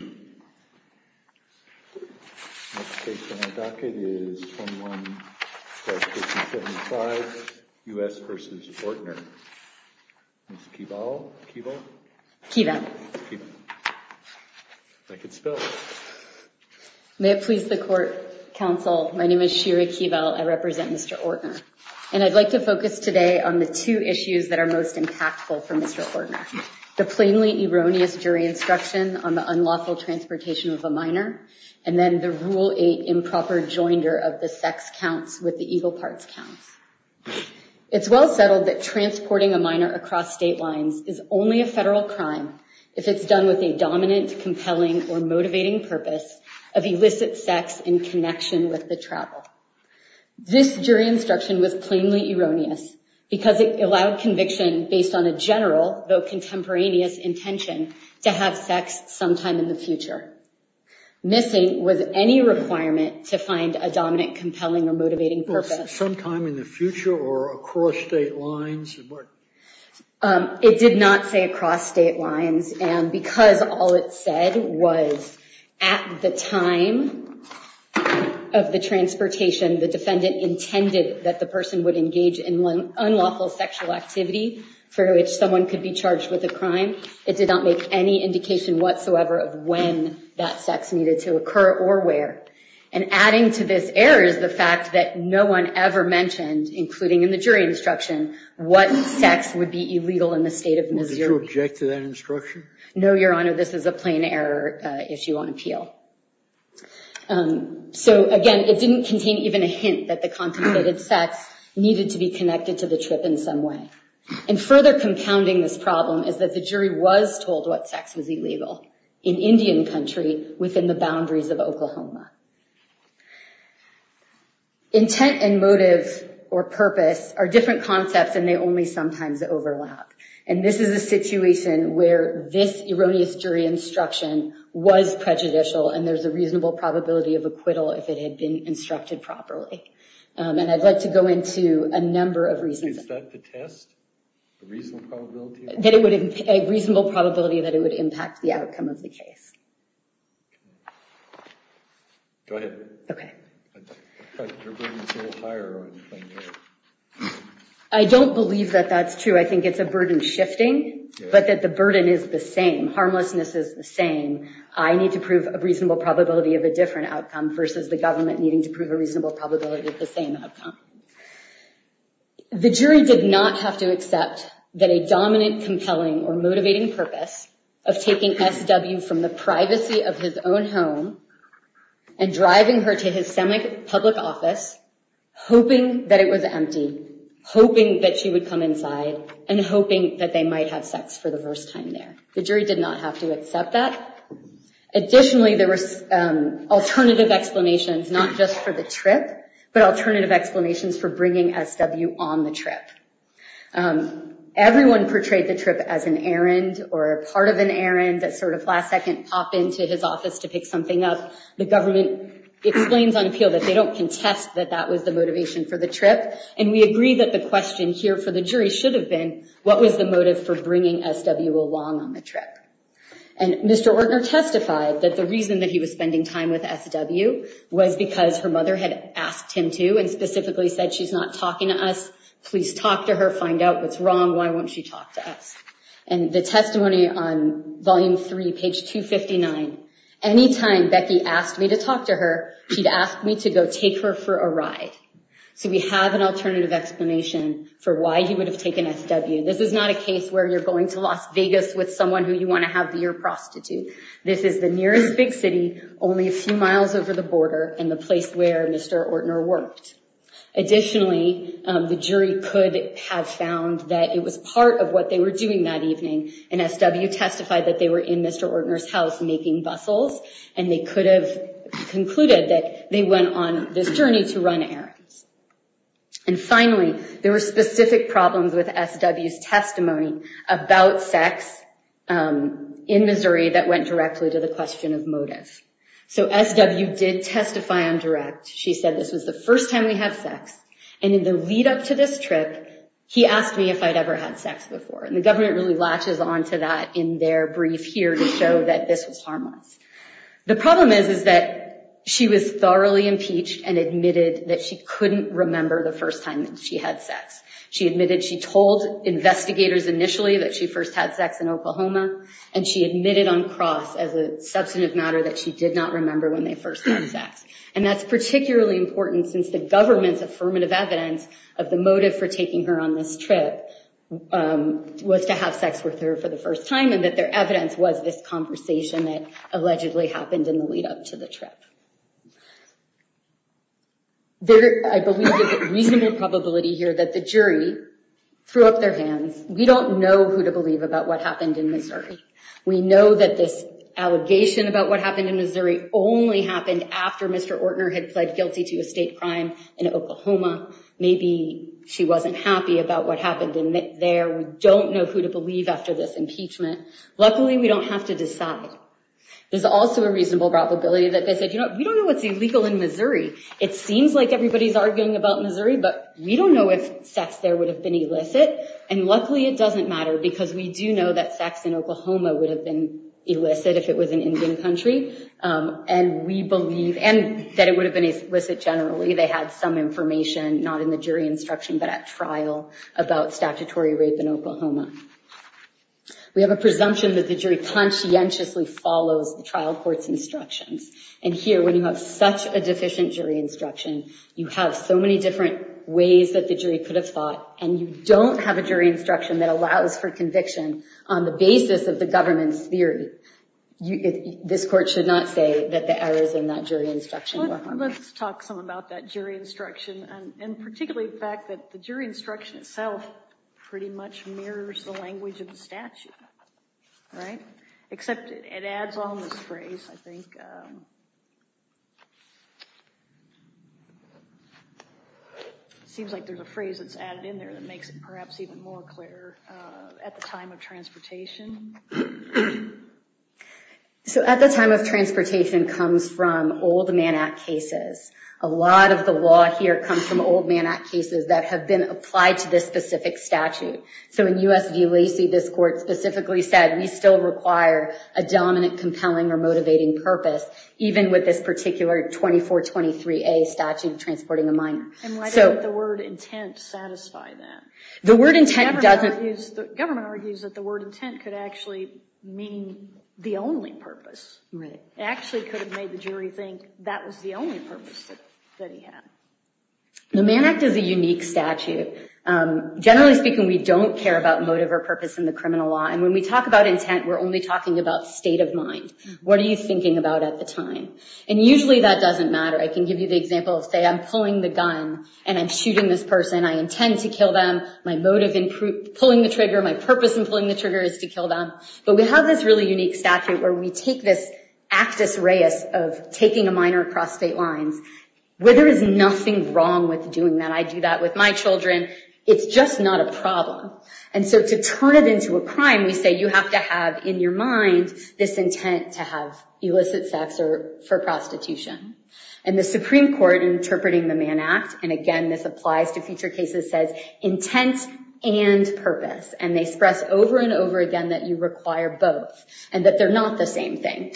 May it please the Court, Counsel, my name is Shira Keeval, I represent Mr. Ortner. And I'd like to focus today on the two issues that are most impactful for Mr. Ortner. The plainly erroneous jury instruction on the unlawful transportation of a minor, and then the Rule 8 improper joinder of the sex counts with the evil parts counts. It's well settled that transporting a minor across state lines is only a federal crime if it's done with a dominant, compelling, or motivating purpose of illicit sex in connection with the travel. This jury instruction was plainly erroneous because it allowed conviction based on a general though contemporaneous intention to have sex sometime in the future. Missing was any requirement to find a dominant, compelling, or motivating purpose. Sometime in the future or across state lines? It did not say across state lines, and because all it said was at the time of the transportation the defendant intended that the person would engage in unlawful sexual activity for which someone could be charged with a crime. It did not make any indication whatsoever of when that sex needed to occur or where. And adding to this error is the fact that no one ever mentioned, including in the jury instruction, what sex would be illegal in the state of Missouri. Did you object to that instruction? No, Your Honor. This is a plain error issue on appeal. So again, it didn't contain even a hint that the contemplated sex needed to be connected to the trip in some way. And further compounding this problem is that the jury was told what sex was illegal in Indian country within the boundaries of Oklahoma. Intent and motive or purpose are different concepts and they only sometimes overlap. And this is a situation where this erroneous jury instruction was prejudicial and there's a reasonable probability of acquittal if it had been instructed properly. And I'd like to go into a number of reasons. Is that the test? A reasonable probability? A reasonable probability that it would impact the outcome of the case. Go ahead. I don't believe that that's true. I think it's a burden shifting, but that the burden is the same. Harmlessness is the same. I need to prove a reasonable probability of a different outcome versus the government needing to prove a reasonable probability of the same outcome. The jury did not have to accept that a dominant, compelling, or motivating purpose of taking SW from the privacy of his own home and driving her to his semi-public office, hoping that it was empty, hoping that she would come inside, and hoping that they might have sex for the first time there. The jury did not have to accept that. Additionally, there was alternative explanations, not just for the trip, but alternative explanations for bringing SW on the trip. Everyone portrayed the trip as an errand or a part of an errand that sort of last second popped into his office to pick something up. The government explains on appeal that they don't contest that that was the motivation for the trip. And we agree that the question here for the jury should have been, what was the motive for bringing SW along on the trip? And Mr. Ortner testified that the reason that he was spending time with SW was because her family said, she's not talking to us. Please talk to her. Find out what's wrong. Why won't she talk to us? And the testimony on volume three, page 259, anytime Becky asked me to talk to her, she'd ask me to go take her for a ride. So we have an alternative explanation for why he would have taken SW. This is not a case where you're going to Las Vegas with someone who you want to have be your prostitute. This is the nearest big city, only a few miles over the border, and the place where Mr. Ortner worked. Additionally, the jury could have found that it was part of what they were doing that evening, and SW testified that they were in Mr. Ortner's house making bustles. And they could have concluded that they went on this journey to run errands. And finally, there were specific problems with SW's testimony about sex in Missouri that went directly to the question of motive. So SW did testify on direct. She said, this was the first time we had sex, and in the lead up to this trip, he asked me if I'd ever had sex before, and the government really latches onto that in their brief here to show that this was harmless. The problem is that she was thoroughly impeached and admitted that she couldn't remember the first time that she had sex. She admitted she told investigators initially that she first had sex in Oklahoma, and she admitted on cross as a substantive matter that she did not remember when they first had sex. And that's particularly important since the government's affirmative evidence of the motive for taking her on this trip was to have sex with her for the first time, and that their evidence was this conversation that allegedly happened in the lead up to the trip. There, I believe, is a reasonable probability here that the jury threw up their hands. We don't know who to believe about what happened in Missouri. We know that this allegation about what happened in Missouri only happened after Mr. Ortner had pled guilty to a state crime in Oklahoma. Maybe she wasn't happy about what happened there. We don't know who to believe after this impeachment. Luckily, we don't have to decide. There's also a reasonable probability that they said, you know, we don't know what's illegal in Missouri. It seems like everybody's arguing about Missouri, but we don't know if sex there would have been illicit. And luckily, it doesn't matter because we do know that sex in Oklahoma would have been illicit if it was an Indian country. And we believe, and that it would have been illicit generally. They had some information, not in the jury instruction, but at trial about statutory rape in Oklahoma. We have a presumption that the jury conscientiously follows the trial court's instructions. And here, when you have such a deficient jury instruction, you have so many different ways that the jury could have fought, and you don't have a jury instruction that allows for conviction on the basis of the government's theory, this court should not say that the errors in that jury instruction were harmful. Well, let's talk some about that jury instruction, and particularly the fact that the jury instruction itself pretty much mirrors the language of the statute, right? Except it adds on this phrase, I think. It seems like there's a phrase that's added in there that makes it perhaps even more clear. At the time of transportation. So at the time of transportation comes from old Mann Act cases. A lot of the law here comes from old Mann Act cases that have been applied to this specific statute. So in U.S. v. Lacey, this court specifically said, we still require a dominant compelling or motivating purpose, even with this particular 2423A statute transporting a minor. And why did the word intent satisfy that? The word intent doesn't... The government argues that the word intent could actually mean the only purpose. Right. It actually could have made the jury think that was the only purpose that he had. The Mann Act is a unique statute. Generally speaking, we don't care about motive or purpose in the criminal law, and when we talk about state of mind, what are you thinking about at the time? And usually that doesn't matter. I can give you the example of, say, I'm pulling the gun and I'm shooting this person. I intend to kill them. My motive in pulling the trigger, my purpose in pulling the trigger is to kill them. But we have this really unique statute where we take this actus reus of taking a minor across state lines, where there is nothing wrong with doing that. I do that with my children. It's just not a problem. And so to turn it into a crime, we say you have to have in your mind this intent to have illicit sex or for prostitution. And the Supreme Court in interpreting the Mann Act, and again, this applies to future cases, says intent and purpose. And they express over and over again that you require both and that they're not the same thing.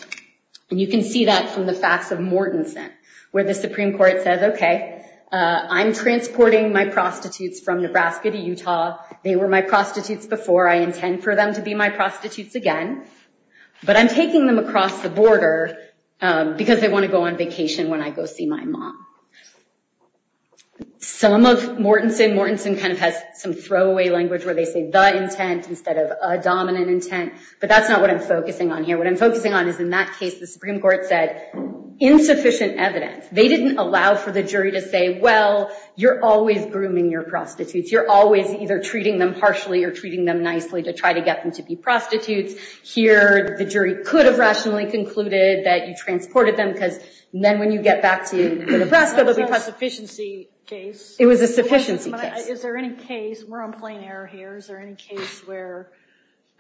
And you can see that from the facts of Mortenson, where the Supreme Court says, okay, I'm transporting my prostitutes from Nebraska to Utah. They were my prostitutes before. I intend for them to be my prostitutes again. But I'm taking them across the border because they want to go on vacation when I go see my mom. Some of Mortenson, Mortenson kind of has some throwaway language where they say the intent instead of a dominant intent, but that's not what I'm focusing on here. What I'm focusing on is in that case, the Supreme Court said insufficient evidence. They didn't allow for the jury to say, well, you're always grooming your prostitutes. You're always either treating them harshly or treating them nicely to try to get them to be prostitutes. Here, the jury could have rationally concluded that you transported them because then when you get back to Nebraska, it would be a sufficiency case. It was a sufficiency case. Is there any case, we're on plain error here, is there any case where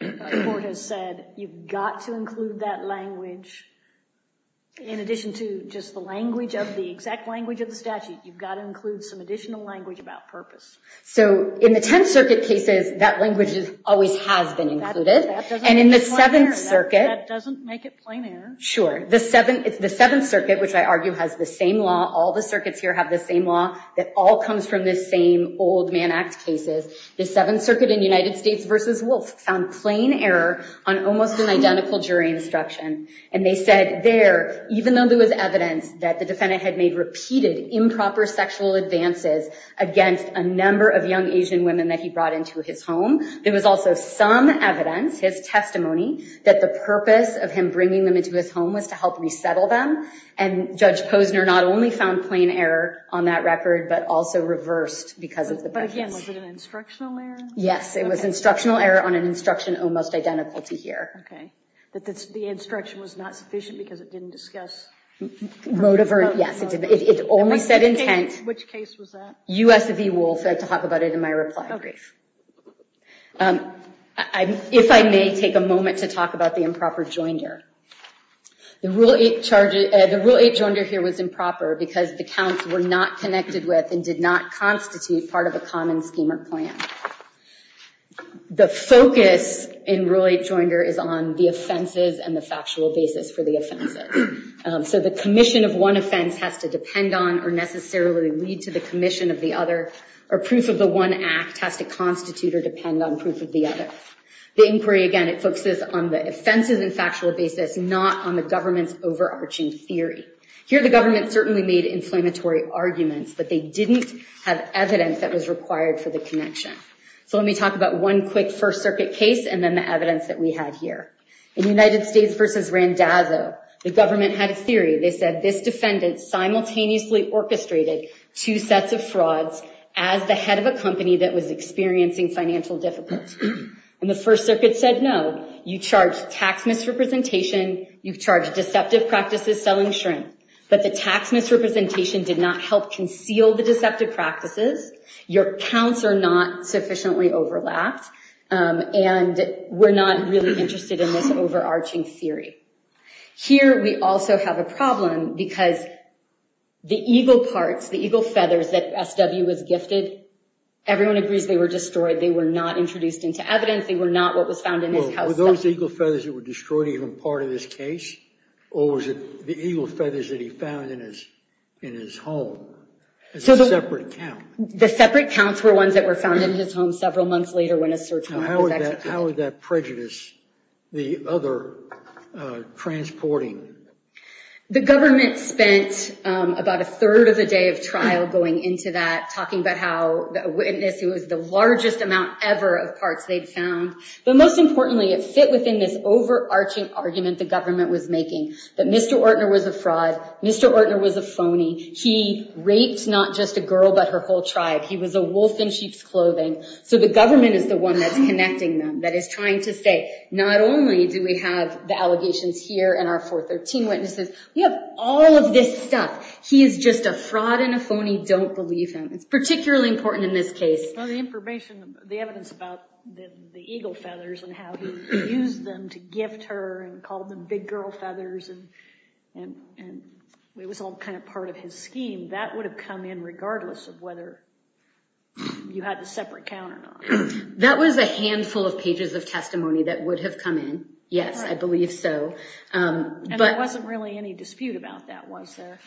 the court has said you've got to include that language in addition to just the language of the exact language of the statute? You've got to include some additional language about purpose. In the Tenth Circuit cases, that language always has been included. In the Seventh Circuit, the Seventh Circuit, which I argue has the same law, all the circuits here have the same law that all comes from the same old Mann Act cases, the Seventh Circuit in United States v. Wolfe found plain error on almost an identical jury instruction. They said there, even though there was evidence that the defendant had made repeated improper sexual advances against a number of young Asian women that he brought into his home, there was also some evidence, his testimony, that the purpose of him bringing them into his home was to help resettle them. Judge Posner not only found plain error on that record, but also reversed because of the preference. But again, was it an instructional error? Yes, it was instructional error on an instruction almost identical to here. The instruction was not sufficient because it didn't discuss... Yes, it only said intent. Which case was that? U.S. v. Wolfe. I have to talk about it in my reply brief. If I may take a moment to talk about the improper joinder. The Rule 8 joinder here was improper because the counts were not connected with and did not constitute part of a common scheme or plan. The focus in Rule 8 joinder is on the offenses and the factual basis for the offenses. So the commission of one offense has to depend on or necessarily lead to the commission of the other. Or proof of the one act has to constitute or depend on proof of the other. The inquiry, again, it focuses on the offenses and factual basis, not on the government's overarching theory. Here, the government certainly made inflammatory arguments, but they didn't have evidence that was required for the connection. So let me talk about one quick First Circuit case and then the evidence that we had here. In United States v. Randazzo, the government had a theory. They said this defendant simultaneously orchestrated two sets of frauds as the head of a company that was experiencing financial difficulties. And the First Circuit said, no, you charged tax misrepresentation, you charged deceptive practices selling shrimp. But the tax misrepresentation did not help conceal the deceptive practices. Your counts are not sufficiently overlapped, and we're not really interested in this overarching theory. Here, we also have a problem because the eagle parts, the eagle feathers that S.W. was gifted, everyone agrees they were destroyed. They were not introduced into evidence, they were not what was found in his house. Were those eagle feathers that were destroyed even part of this case, or was it the eagle feathers that he found in his home as a separate count? The separate counts were ones that were found in his home several months later when a search warrant was executed. How would that prejudice the other transporting? The government spent about a third of the day of trial going into that, talking about how this was the largest amount ever of parts they'd found. But most importantly, it fit within this overarching argument the government was making, that Mr. He raped not just a girl, but her whole tribe. He was a wolf in sheep's clothing. So the government is the one that's connecting them, that is trying to say, not only do we have the allegations here and our 413 witnesses, we have all of this stuff. He is just a fraud and a phony. Don't believe him. It's particularly important in this case. Well, the information, the evidence about the eagle feathers and how he used them to his scheme, that would have come in regardless of whether you had a separate count or not. That was a handful of pages of testimony that would have come in, yes, I believe so. And there wasn't really any dispute about that, was there?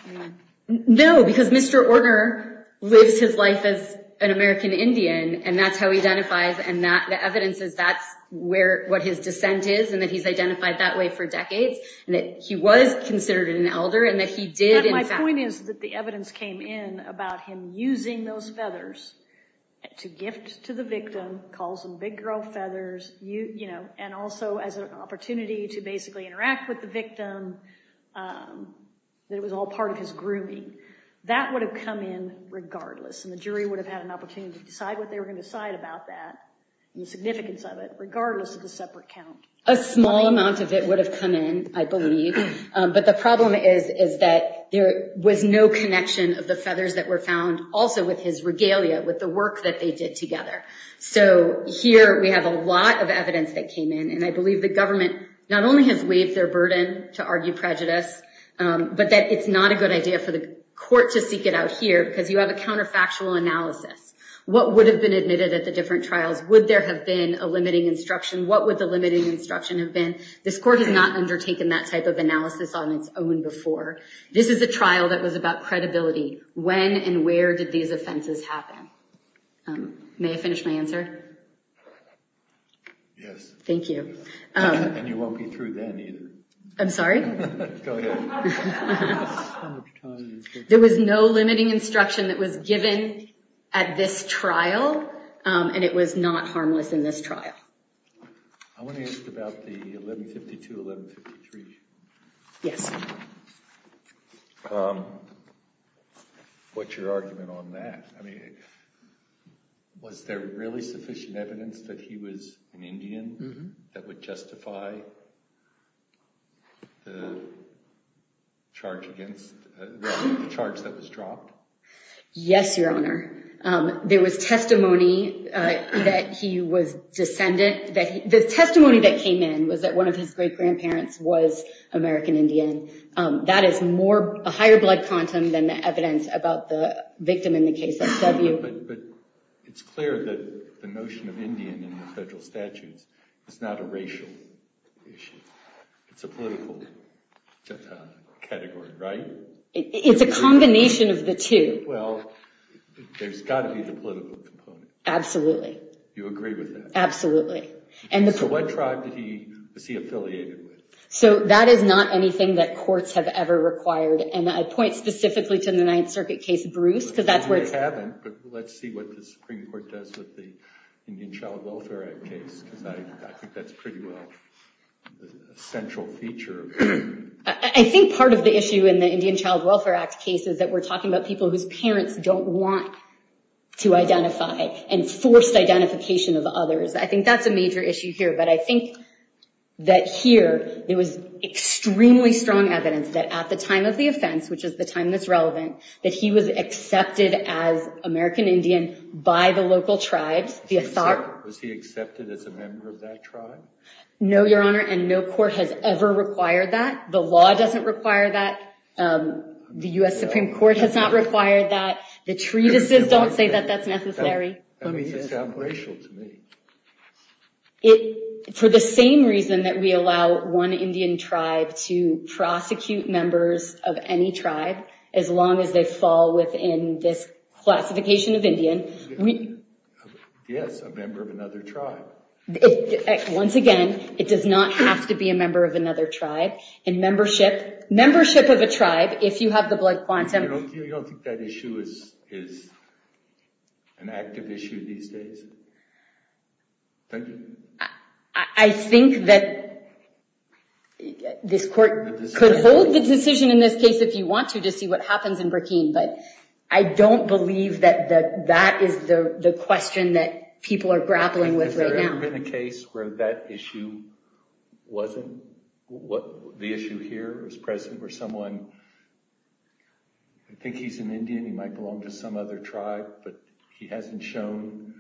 No, because Mr. Orner lives his life as an American Indian, and that's how he identifies and the evidence is that's what his descent is, and that he's identified that way for decades, and that he was considered an elder, and that he did, in fact- But my point is that the evidence came in about him using those feathers to gift to the victim, calls them big girl feathers, and also as an opportunity to basically interact with the victim, that it was all part of his grooming. That would have come in regardless, and the jury would have had an opportunity to decide what they were going to decide about that and the significance of it, regardless of the separate count. A small amount of it would have come in, I believe, but the problem is that there was no connection of the feathers that were found also with his regalia, with the work that they did together. So here we have a lot of evidence that came in, and I believe the government not only has waived their burden to argue prejudice, but that it's not a good idea for the court to seek it out here, because you have a counterfactual analysis. What would have been admitted at the different trials? Would there have been a limiting instruction? What would the limiting instruction have been? This court has not undertaken that type of analysis on its own before. This is a trial that was about credibility. When and where did these offenses happen? May I finish my answer? Yes. Thank you. And you won't be through then, either. I'm sorry? Go ahead. There was no limiting instruction that was given at this trial, and it was not harmless in this trial. I want to ask about the 1152-1153. Yes. What's your argument on that? I mean, was there really sufficient evidence that he was an Indian that would justify the charge that was dropped? Yes, Your Honor. There was testimony that he was descendant. The testimony that came in was that one of his great-grandparents was American Indian. That is a higher blood quantum than the evidence about the victim in the case of W. But it's clear that the notion of Indian in the federal statutes is not a racial issue. It's a political category, right? It's a combination of the two. Well, there's got to be the political component. Absolutely. You agree with that? Absolutely. So what tribe was he affiliated with? So that is not anything that courts have ever required. And I point specifically to the Ninth Circuit case, Bruce. You haven't, but let's see what the Supreme Court does with the Indian Child Welfare Act case, because I think that's pretty well a central feature. I think part of the issue in the Indian Child Welfare Act case is that we're talking about people whose parents don't want to identify and forced identification of others. I think that's a major issue here. But I think that here there was extremely strong evidence that at the time of the offense, which is the time that's relevant, that he was accepted as American Indian by the local tribes. Was he accepted as a member of that tribe? No, Your Honor, and no court has ever required that. The law doesn't require that. The U.S. Supreme Court has not required that. The treatises don't say that that's necessary. That sounds racial to me. For the same reason that we allow one Indian tribe to prosecute members of any tribe, as long as they fall within this classification of Indian. Yes, a member of another tribe. Once again, it does not have to be a member of another tribe. Membership of a tribe, if you have the blood quantum. You don't think that issue is an active issue these days? Thank you. I think that this court could hold the decision in this case if you want to to see what happens in Burkine. But I don't believe that that is the question that people are grappling with right now. Has there ever been a case where that issue wasn't, the issue here is present where someone, I think he's an Indian, he might belong to some other tribe, but he hasn't shown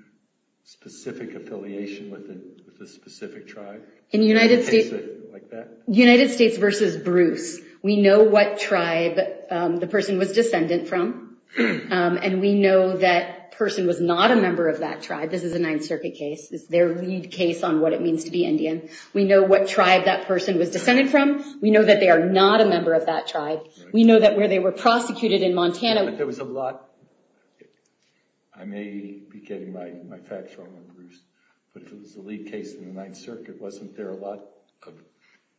specific affiliation with a specific tribe? United States versus Bruce. We know what tribe the person was descendant from, and we know that person was not a member of that tribe. This is a Ninth Circuit case. It's their lead case on what it means to be Indian. We know what tribe that person was descended from. We know that they are not a member of that tribe. We know that where they were prosecuted in Montana, There was a lot, I may be getting my facts wrong on Bruce, but if it was a lead case in the Ninth Circuit, wasn't there a lot of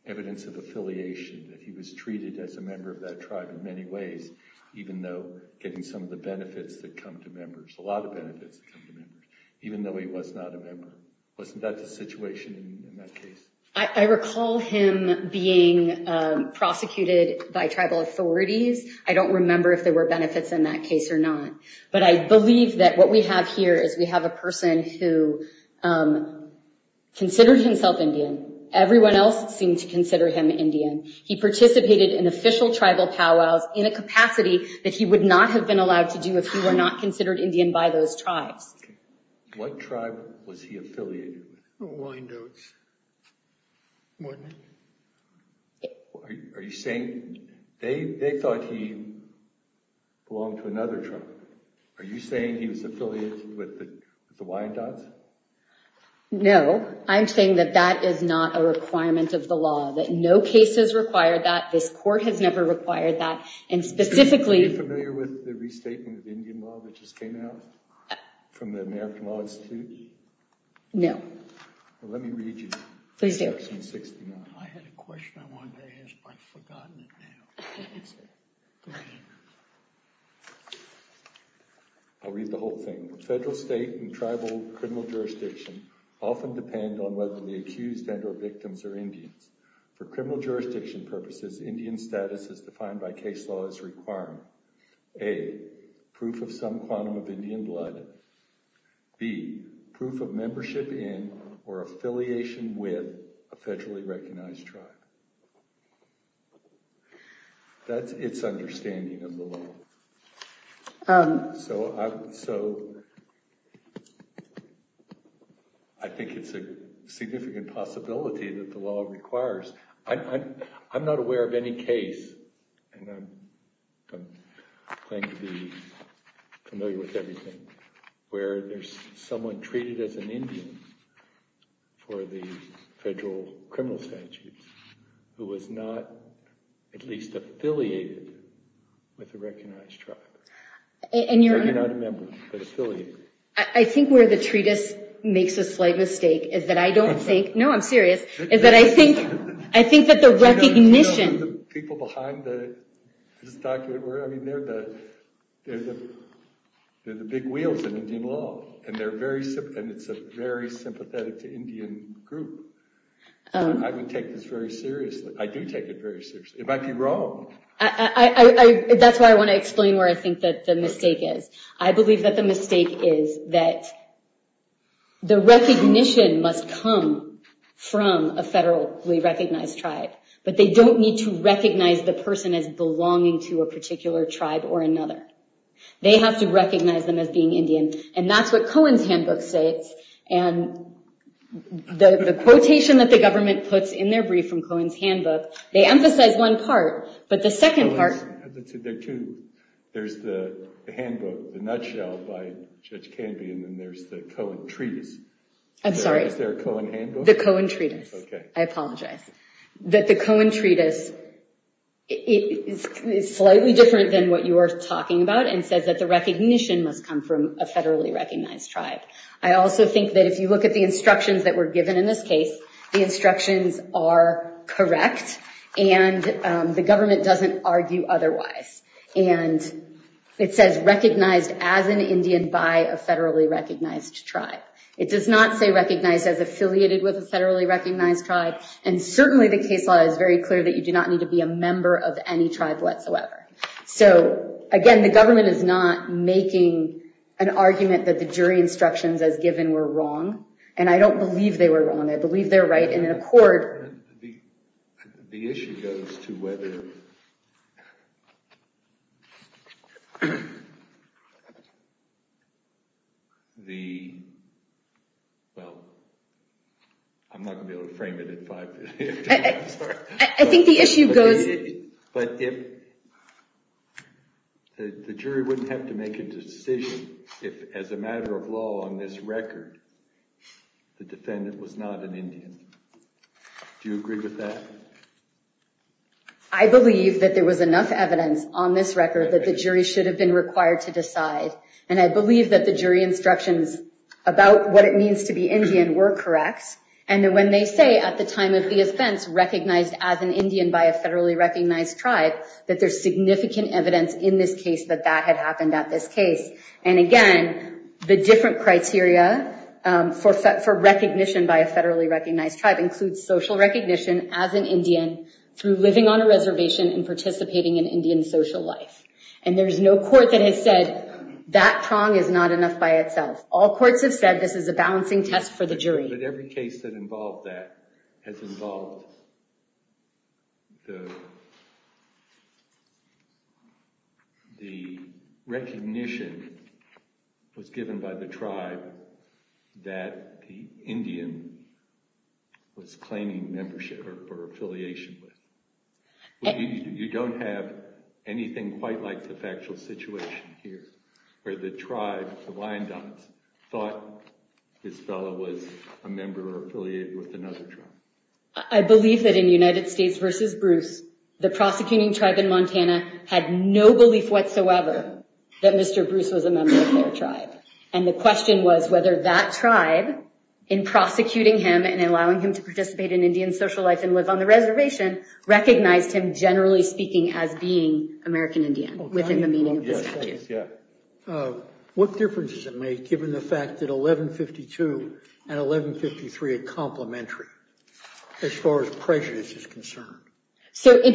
evidence of affiliation, that he was treated as a member of that tribe in many ways, even though getting some of the benefits that come to members, there's a lot of benefits that come to members, even though he was not a member. Wasn't that the situation in that case? I recall him being prosecuted by tribal authorities. I don't remember if there were benefits in that case or not. But I believe that what we have here is we have a person who considered himself Indian. Everyone else seemed to consider him Indian. He participated in official tribal powwows in a capacity that he would not have been allowed to do if he were not considered Indian by those tribes. What tribe was he affiliated with? The Wyandottes, wasn't it? Are you saying, they thought he belonged to another tribe. Are you saying he was affiliated with the Wyandottes? No, I'm saying that that is not a requirement of the law, that no case has required that, this court has never required that, and specifically... Are you familiar with the restatement of Indian law that just came out from the American Law Institute? No. Well, let me read you section 69. I had a question I wanted to ask, but I've forgotten it now. I'll read the whole thing. Federal, state, and tribal criminal jurisdiction often depend on whether the accused and or victims are Indians. For criminal jurisdiction purposes, Indian status as defined by case law is required. A. Proof of some quantum of Indian blood. B. Proof of membership in or affiliation with a federally recognized tribe. That's its understanding of the law. So I think it's a significant possibility that the law requires... I'm not aware of any case, and I claim to be familiar with everything, where there's someone treated as an Indian for the federal criminal statutes who was not at least affiliated with a recognized tribe. And you're not a member, but affiliated. I think where the treatise makes a slight mistake is that I don't think... No, I'm serious. Is that I think that the recognition... Do you know who the people behind this document were? I mean, they're the big wheels of Indian law. And it's a very sympathetic to Indian group. I would take this very seriously. I do take it very seriously. It might be wrong. That's why I want to explain where I think that the mistake is. I believe that the mistake is that the recognition must come from a federally recognized tribe. But they don't need to recognize the person as belonging to a particular tribe or another. They have to recognize them as being Indian. And that's what Cohen's handbook states. And the quotation that the government puts in their brief from Cohen's handbook, they emphasize one part, but the second part... There are two. There's the handbook, the nutshell by Judge Canby, and then there's the Cohen treatise. I'm sorry. Is there a Cohen handbook? The Cohen treatise. Okay. I apologize. That the Cohen treatise is slightly different than what you are talking about and says that the recognition must come from a federally recognized tribe. I also think that if you look at the instructions that were given in this case, the instructions are correct and the government doesn't argue otherwise. And it says recognized as an Indian by a federally recognized tribe. It does not say recognized as affiliated with a federally recognized tribe. And certainly the case law is very clear that you do not need to be a member of any tribe whatsoever. So again, the government is not making an argument that the jury instructions as given were wrong. And I don't believe they were wrong. I believe they're right in a court. The issue goes to whether... The... Well, I'm not going to be able to frame it in five minutes. I think the issue goes... But if... The jury wouldn't have to make a decision if as a matter of law on this record the defendant was not an Indian. Do you agree with that? I believe that there was enough evidence on this record that the jury should have been required to decide. And I believe that the jury instructions about what it means to be Indian were correct. And when they say at the time of the offense recognized as an Indian by a federally recognized tribe, that there's significant evidence in this case that that had happened at this case. And again, the different criteria for recognition by a federally recognized tribe includes social recognition as an Indian through living on a reservation and participating in Indian social life. And there's no court that has said that prong is not enough by itself. All courts have said this is a balancing test for the jury. But every case that involved that has involved... The recognition was given by the tribe that the Indian was claiming membership or affiliation with. You don't have anything quite like the factual situation here where the tribe, the Wyandottes, thought this fellow was a member or affiliated with another tribe. I believe that in United States v. Bruce, the prosecuting tribe in Montana had no belief whatsoever that Mr. Bruce was a member of their tribe. And the question was whether that tribe in prosecuting him and allowing him to participate in Indian social life and live on the reservation recognized him generally speaking as being American Indian within the meaning of the statute. So in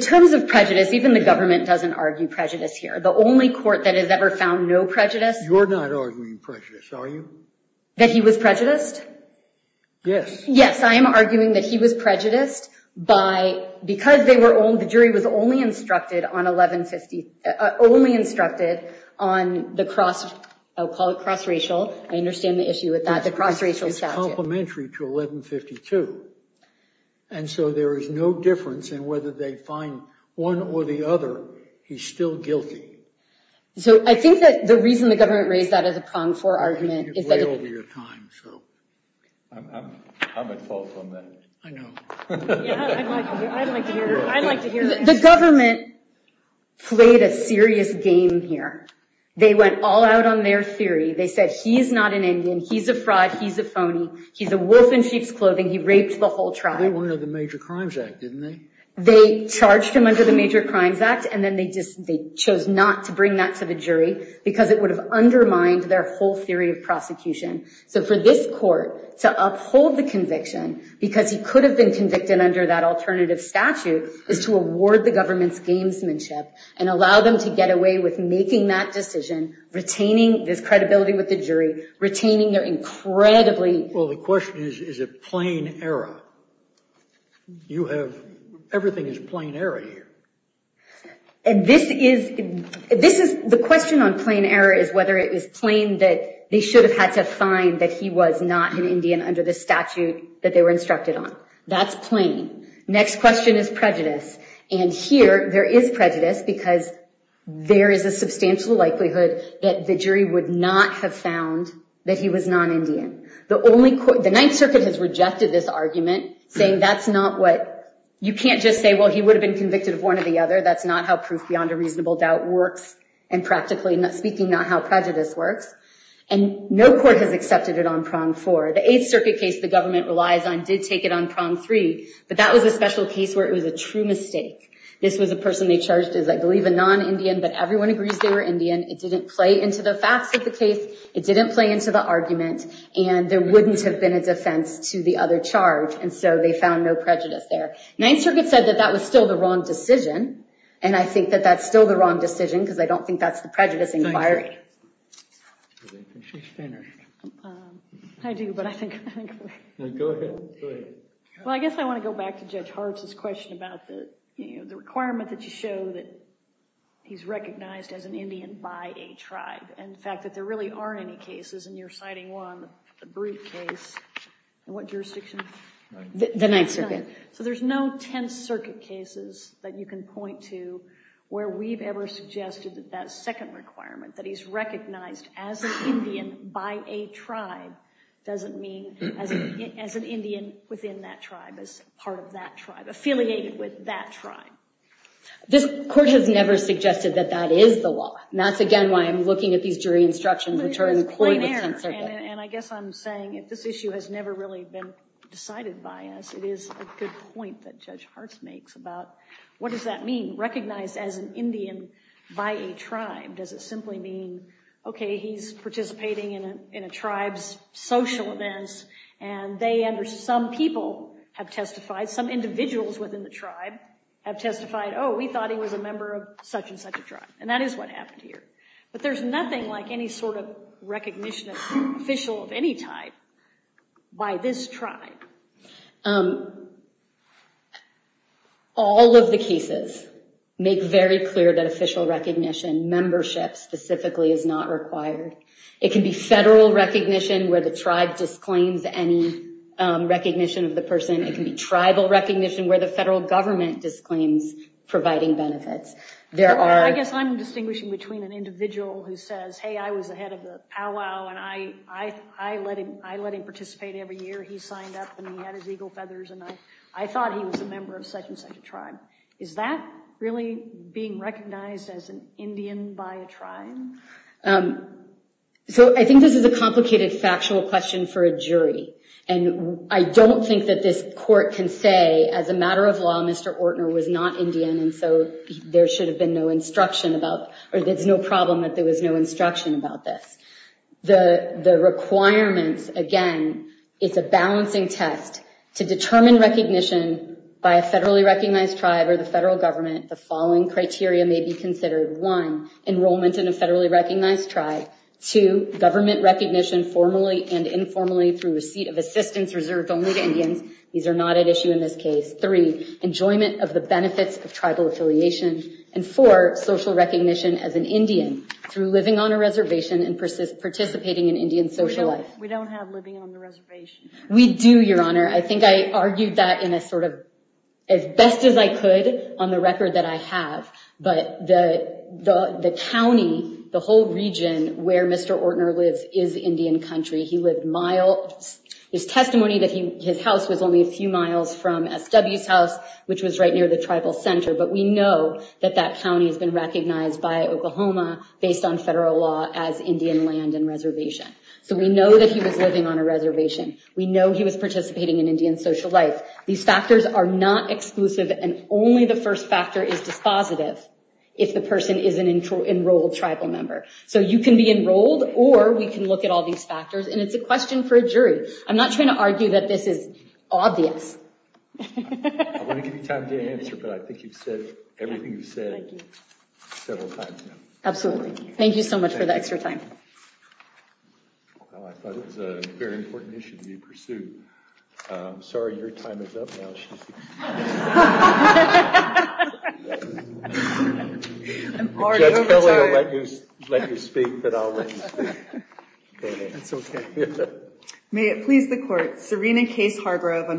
terms of prejudice, even the government doesn't argue prejudice here. The only court that has ever found no prejudice... You're not arguing prejudice, are you? That he was prejudiced? Yes. Yes, I am arguing that he was prejudiced because the jury was only instructed on 1150... only instructed on the cross... I'll call it cross-racial. I understand the issue with that. The cross-racial statute. It's complementary to 1152. And so there is no difference in whether they find one or the other, he's still guilty. So I think that the reason the government raised that as a prong for argument... The government played a serious game here. They went all out on their theory. They said he's not an Indian, he's a fraud, he's a phony, he's a wolf in sheep's clothing, he raped the whole tribe. They wanted him under the Major Crimes Act, didn't they? They charged him under the Major Crimes Act and then they just... they chose not to bring that to the jury because it would have undermined their whole theory of prosecution. So for this court to uphold the conviction because he could have been convicted under that alternative statute is to award the government's gamesmanship and allow them to get away with making that decision, retaining this credibility with the jury, retaining their incredibly... Well, the question is, is it plain error? You have... everything is plain error here. And this is... This is... The question on plain error is whether it is plain that they should have had to find that he was not an Indian under the statute that they were instructed on. That's plain. Next question is prejudice. And here, there is prejudice because there is a substantial likelihood that the jury would not have found that he was non-Indian. The only... The Ninth Circuit has rejected this argument saying that's not what... You can't just say, well, he would have been convicted of one or the other. That's not how proof beyond a reasonable doubt works and practically speaking, not how prejudice works. And no court has accepted it on prong four. The Eighth Circuit case the government relies on did take it on prong three, but that was a special case where it was a true mistake. This was a person they charged as I believe a non-Indian, but everyone agrees they were Indian. It didn't play into the facts of the case. It didn't play into the argument. And there wouldn't have been a defense to the other charge. And so they found no prejudice there. Ninth Circuit said that that was still the wrong decision. And I think that that's still the wrong decision because I don't think that's the prejudice inquiry. Thank you. I don't think she's finished. I do, but I think... Go ahead. Well, I guess I want to go back to Judge Hartz's question about the requirement that you show that he's recognized as an Indian by a tribe. And the fact that there really aren't any cases and you're citing one, a brute case, in what jurisdiction? The Ninth Circuit. So there's no Tenth Circuit cases that you can point to where we've ever suggested that that second requirement, that he's recognized as an Indian by a tribe, doesn't mean as an Indian within that tribe, as part of that tribe, affiliated with that tribe. This Court has never suggested that that is the law. And that's, again, why I'm looking at these jury instructions which are important with Tenth Circuit. And I guess I'm saying if this issue has never really been decided by us, it is a good point that Judge Hartz makes about what does that mean, recognized as an Indian by a tribe? Does it simply mean, okay, he's participating in a tribe's social events and they, under some people, have testified, some individuals within the tribe have testified, oh, we thought he was a member of such and such a tribe. And that is what happened here. But there's nothing like any sort of recognition of an official of any type by this tribe. All of the cases make very clear that official recognition, membership specifically, is not required. It can be federal recognition where the tribe disclaims any recognition of the person. It can be tribal recognition where the federal government disclaims providing benefits. There are... I guess I'm distinguishing between an individual who says, hey, I was the head of the powwow and I let him participate every year. And then later he signed up and he had his eagle feathers and I thought he was a member of such and such a tribe. Is that really being recognized as an Indian by a tribe? So I think this is a complicated factual question for a jury. And I don't think that this court can say as a matter of law Mr. Ortner was not Indian and so there should have been no instruction about or there's no problem that there was no instruction about this. The requirements, again, it's a balancing test to determine recognition by a federally recognized tribe or the federal government the following criteria may be considered. One, enrollment in a federally recognized tribe. Two, government recognition formally and informally through receipt of assistance reserved only to Indians. These are not at issue in this case. Three, enjoyment of the benefits of tribal affiliation. And four, social recognition as an Indian through living on a reservation and participating in Indian social life. We don't have living on the reservation. We do, Your Honor. I think I argued that in a sort of as best as I could on the record that I have but the county, the whole region where Mr. Ortner lives is Indian country. He lived miles. There's testimony that his house was only a few miles from SW's house which was right near the tribal center but we know that that county has been recognized by Oklahoma based on federal law as Indian land and reservation. So we know that he was living on a reservation. We know he was participating in Indian social life. These factors are not exclusive and only the first factor is dispositive if the person is an enrolled tribal member. So you can be enrolled or we can look at all these factors and it's a question for a jury. I'm not trying to argue that this is obvious. I want to give you time to answer but I think you've said everything you've said several times now. Absolutely. Thank you so much for the extra time. Well I thought it was a very important issue to be pursued. I'm sorry your time is up now. I'm already over time. Judge Kelly will let you speak but I'll let you speak. That's okay. May it please the court. Serena Case Hargrove by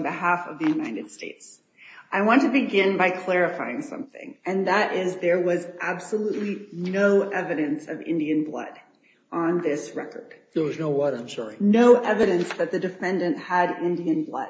clarifying something and that is there was absolutely no evidence of Indian blood in this case. There was absolutely no evidence of Indian blood in this case. There was no evidence of Indian blood on this record. There was no what I'm sorry. No evidence that the defendant had Indian blood.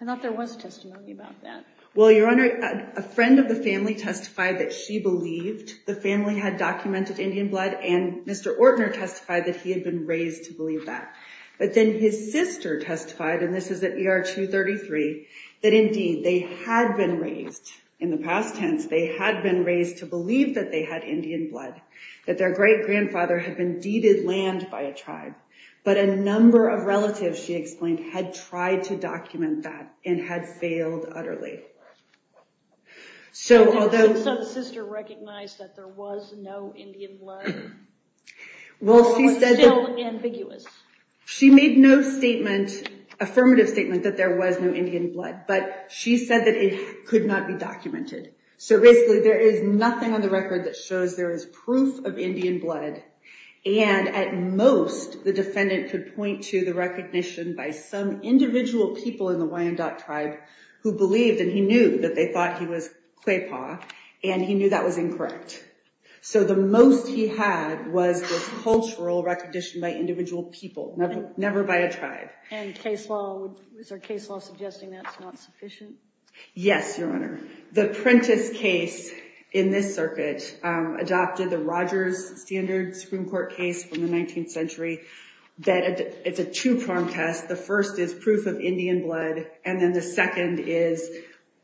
I thought there was testimony about that. Well your Honor a friend of the family testified that she believed the family had documented Indian blood and Mr. Ortner had been raised to believe that but then his sister testified and this is at ER 233 that indeed they had been raised in the past tense they had been raised to believe that they had Indian blood that their great-grandfather had been deeded land by a tribe but a number of relatives she explained had tried to document that and had failed utterly. So although So the sister recognized that there was no Indian blood while it was still ambiguous. She made no statement affirmative statement that there was no Indian blood but she said that it could not be documented so basically there is nothing on the record that shows there is proof of Indian blood and at most the defendant could point to the recognition by some individual people in the Wyandotte tribe who believed and he knew that they thought he was Kwe Pa and he knew that was incorrect so the most he had was the cultural recognition by individual people never by a tribe. And case law is there case law suggesting that's not sufficient? Yes Your Honor The Prentiss case in this circuit adopted the Rogers standard Supreme Court case from the 19th century that it's a two-pronged test the first is proof of Indian blood and then the second is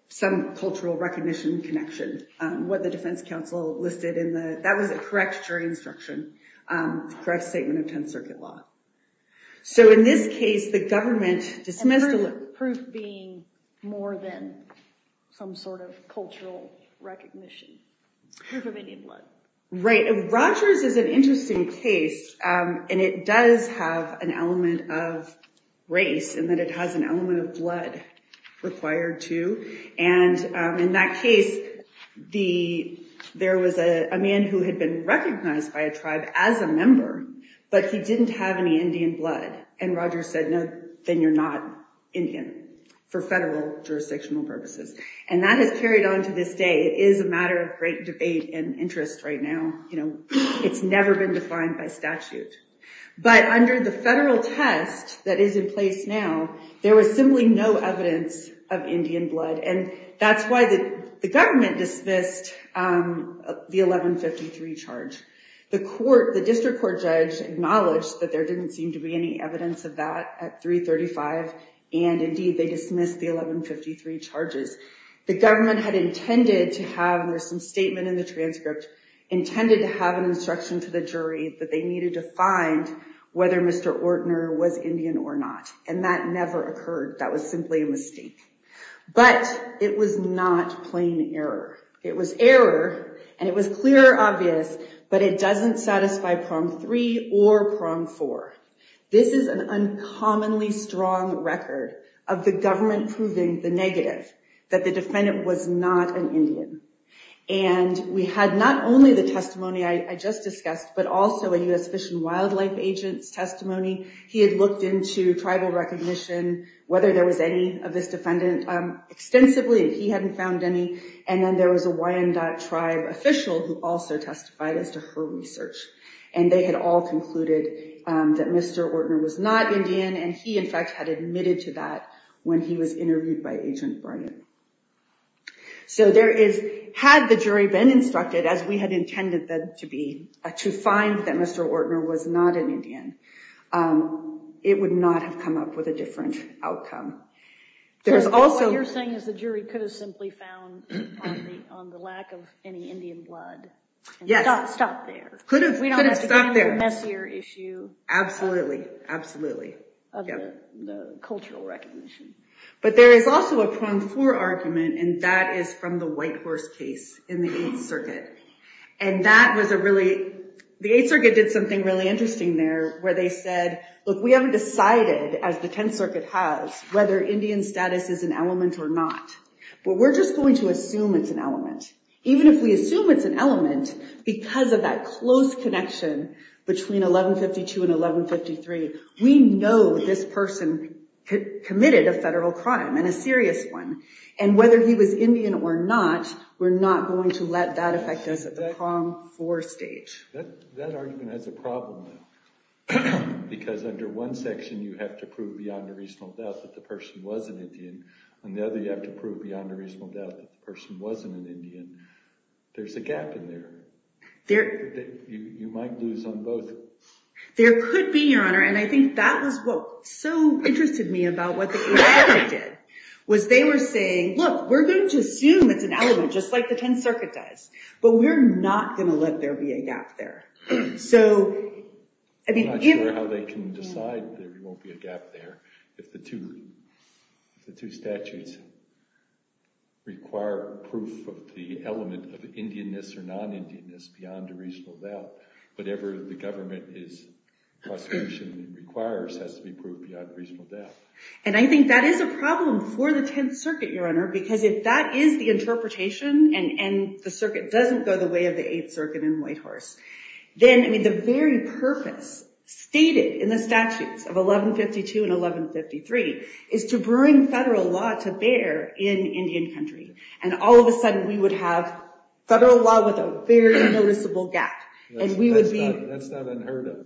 some cultural recognition connection what the defense counsel listed in the that was correct jury instruction correct statement of 10th circuit law so in this case the government dismissed the proof being more than some sort of cultural recognition proof of Indian blood Right Rogers is an interesting case and it does have an element of race and that it has an element of blood required to and in that case the there was a man who had been recognized by a tribe as a member but he didn't have any Indian blood and Rogers said no if you're Indian then you're not Indian for federal jurisdictional purposes and that has carried on to this day it is a matter of great debate and interest right now you know it's never been defined by statute but under the federal test that is in place now there was simply no evidence of Indian blood case of 1153 35 and indeed they dismissed the 1153 charges the government had intended to have there was some statement in the transcript intended to have an instruction to the jury that they needed to find whether Mr. Ortner was Indian or not and that never occurred that was simply a mistake but it was not plain error it was error and it was clear obvious but it doesn't satisfy prong three or prong four this is an indian he had looked into tribal recognition whether there was any of this defendant extensively he hadn't found any and then there was a YMDOT tribe official who also testified as to her research and they had all concluded that Mr. Ortner was not an Indian um it would not have come up with a different outcome there's also what you're saying is the jury could have simply found on the lack of any indian blood yes stop there could have could have stopped there absolutely absolutely of the 8th Circuit did something really interesting there where they said look we haven't decided as the 10th Circuit has whether indian status is an element or not but we're just going to assume it's an element even if we assume it's an element because of that close connection between 1152 and 1153 we know this person committed a federal crime and a serious one and whether he was indian or not we're not going to let that affect us at the prom 4 stage that argument has a problem because under one section you have to prove beyond a reasonable doubt that the two statutes require proof of the element of indianess to prove that the two statutes require proof of the element of indianess or non-indianess beyond a reasonable doubt whatever his prosecution requires has to be proved beyond a reasonable doubt and i think that is a problem for the 10th circuit your honor because if that is the interpretation and the circuit doesn't go the way of the 8th circuit in white horse then the very purpose stated in the statutes of 1152 and 1153 is to bring federal law to bear in indian country and all of a sudden we would have federal law with a very noticeable gap that's not unheard of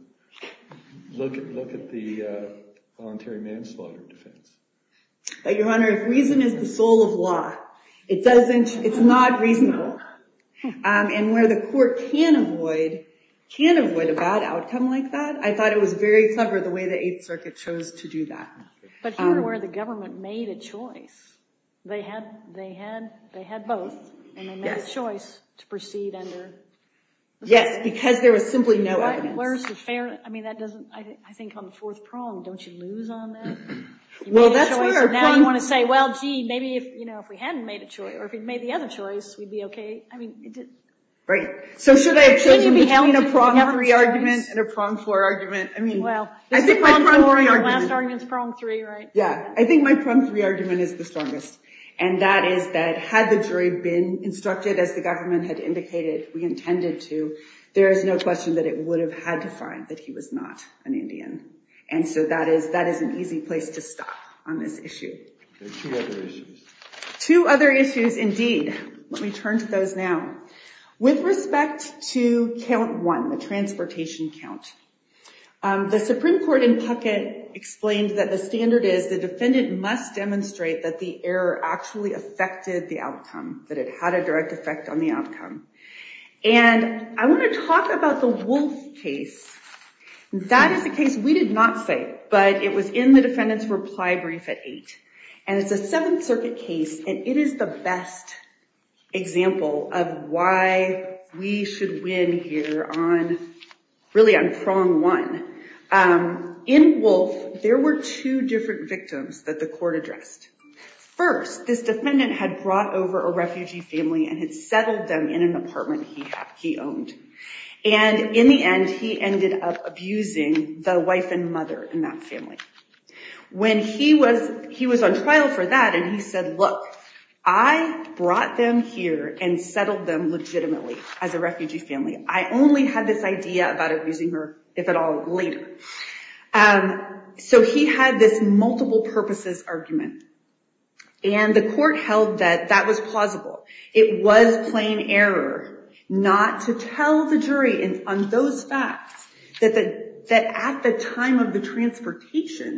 look at the voluntary manslaughter defense but your honor if reason is the soul of law it doesn't it's not reasonable and where the court can avoid can avoid a bad outcome like that i thought it was very clever the way the 8th circuit chose to do that but here where the government made a choice they had they had they had both and they you know if we hadn't made a choice or if we made the other choice we'd be okay right so should i have chosen between a prong three argument and a prong four argument i mean i think my prong three argument is the strongest and that is that had the jury been instructed as the two other issues indeed let me turn to those now with respect to count one the transportation count the supreme court in puckett explained that the standard is the defendant must demonstrate that the error actually affected the outcome that it had a direct case and it is the best example of why we should win here on really on prong one um in wolf there were two different victims that the court addressed first this defendant had brought over a refugee family and had settled them in an apartment he had he owned and in the end he ended up abusing the wife and mother in that family when he was he was on trial for that and he said look i brought them here and settled them legitimately as a refugee family i only had this idea about abusing her if at all later um so he had this multiple purposes argument and the court held that that was plausible it was plain error not to tell the jury on those facts that that at the time of the transportation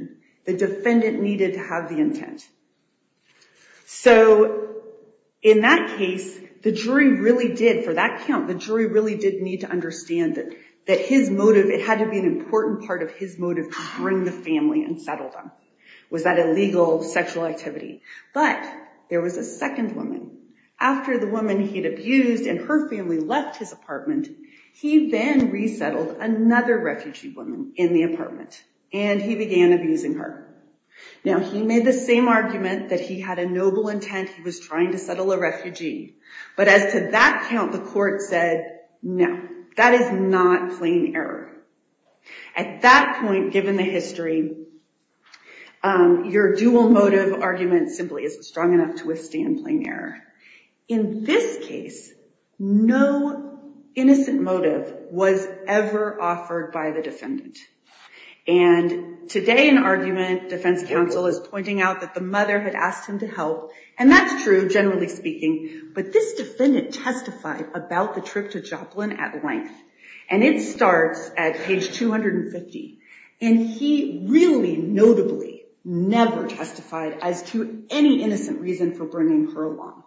the defendant needed to have the intent so in that case the jury really did for that count the jury really did need to understand that his motive it had to be an important part of his motive to bring the family and settle them was that illegal sexual activity but there was a second woman after the woman he had abused and her family left his apartment he then resettled another refugee woman in the apartment and he began abusing her now he made the same argument that he had a noble intent he was trying to settle a refugee but as to that count the court said no that is not plain error at that point given the history your dual motive argument simply isn't strong enough to withstand plain error in this case no innocent motive was ever offered by the defendant and today an argument defense counsel is pointing out that the mother had asked him to help and that's true generally speaking but this defendant testified about the trip to Joplin at length and it starts at page 250 and he really notably never testified as to any innocent reason for bringing her along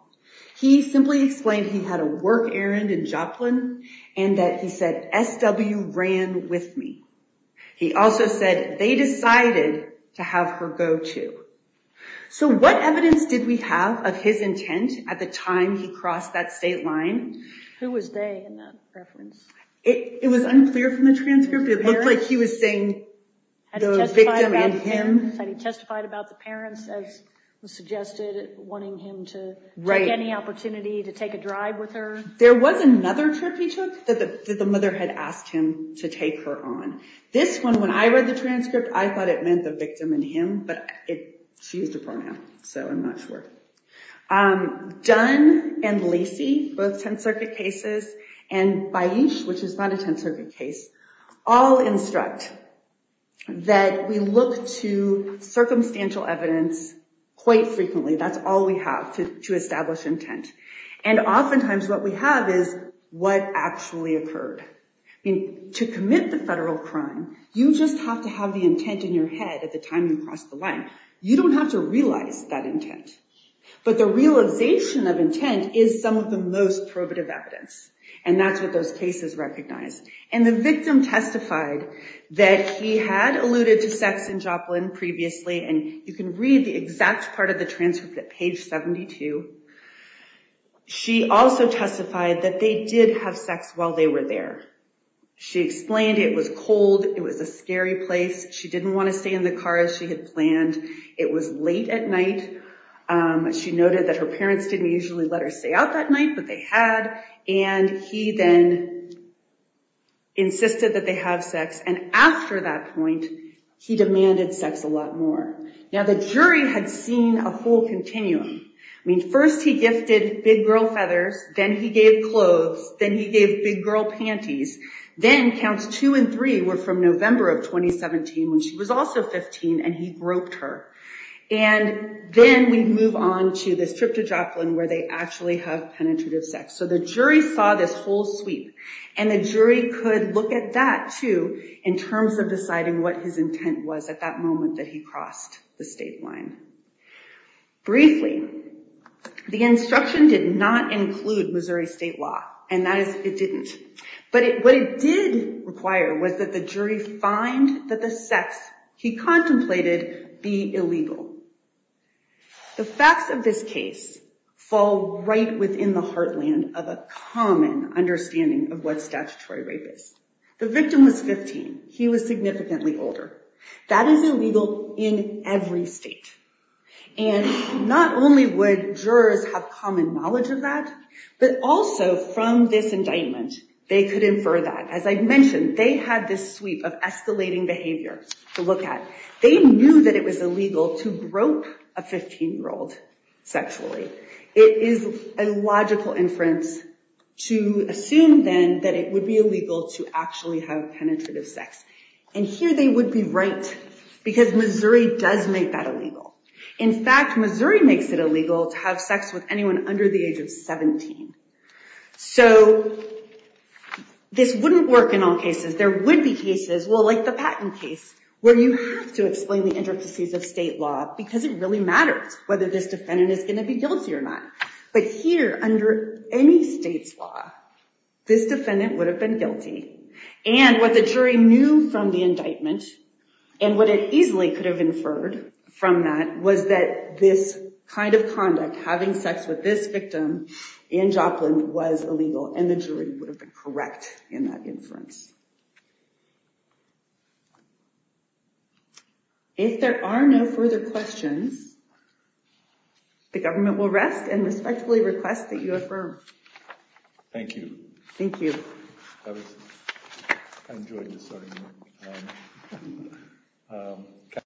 he simply explained he had a work errand in Joplin and that he said SW ran with me he also said they decided to have her go too so what evidence did we have of his intent at the time he crossed that state line? Who was they in that reference? It was unclear from the transcript it looked like he was saying the victim and him testified about the parents as was suggested wanting him to take any opportunity to take a drive with her there was another trip he took that the mother had asked him to take her on this one when I read the transcript I thought it meant the victim and him but she used a pronoun so I'm not sure Dunn and Lacey both 10th Circuit cases and Baish which is not a 10th Circuit case but what we have is what actually occurred to commit the federal crime you just have to have the intent in your head at the time you crossed the line you don't have to realize that intent but the realization of intent is some of the most probative evidence and that's what those cases recognized and the victim testified that he had alluded to sex in Joplin previously and you can read the exact part of the transcript at page 72 she also testified that they did have sex while they were there she explained it was cold and he then insisted that they have sex and after that point he demanded sex a lot more now the jury had seen a full continuum first he gifted big girl feathers then he gave clothes then he gave big girl panties then counts two and three were from Missouri State Law this whole sweep and the jury could look at that too in terms of deciding what his intent was at that moment that he crossed the state line briefly the instruction did not include Missouri State Law the victim was 15 he was significantly older that is illegal in every state and not only would jurors have common knowledge of that but also from this indictment they could infer that as I mentioned they had this sweep of escalating behavior to look at they knew that it was illegal to grope a 15 year old sexually it is a logical inference to assume then that it would be illegal to actually have penetrative sex and here they would be right because Missouri does make that illegal in fact Missouri makes it illegal to have sex with anyone under the age of 17 so this wouldn't work in all cases there would be cases well like the patent case where you have to explain the reason why the jury could have inferred from that was that this kind of conduct having sex with this victim in Joplin was illegal and the jury would have been correct in that inference if there are no further questions the government will rest and respectfully request that you affirm thank you thank you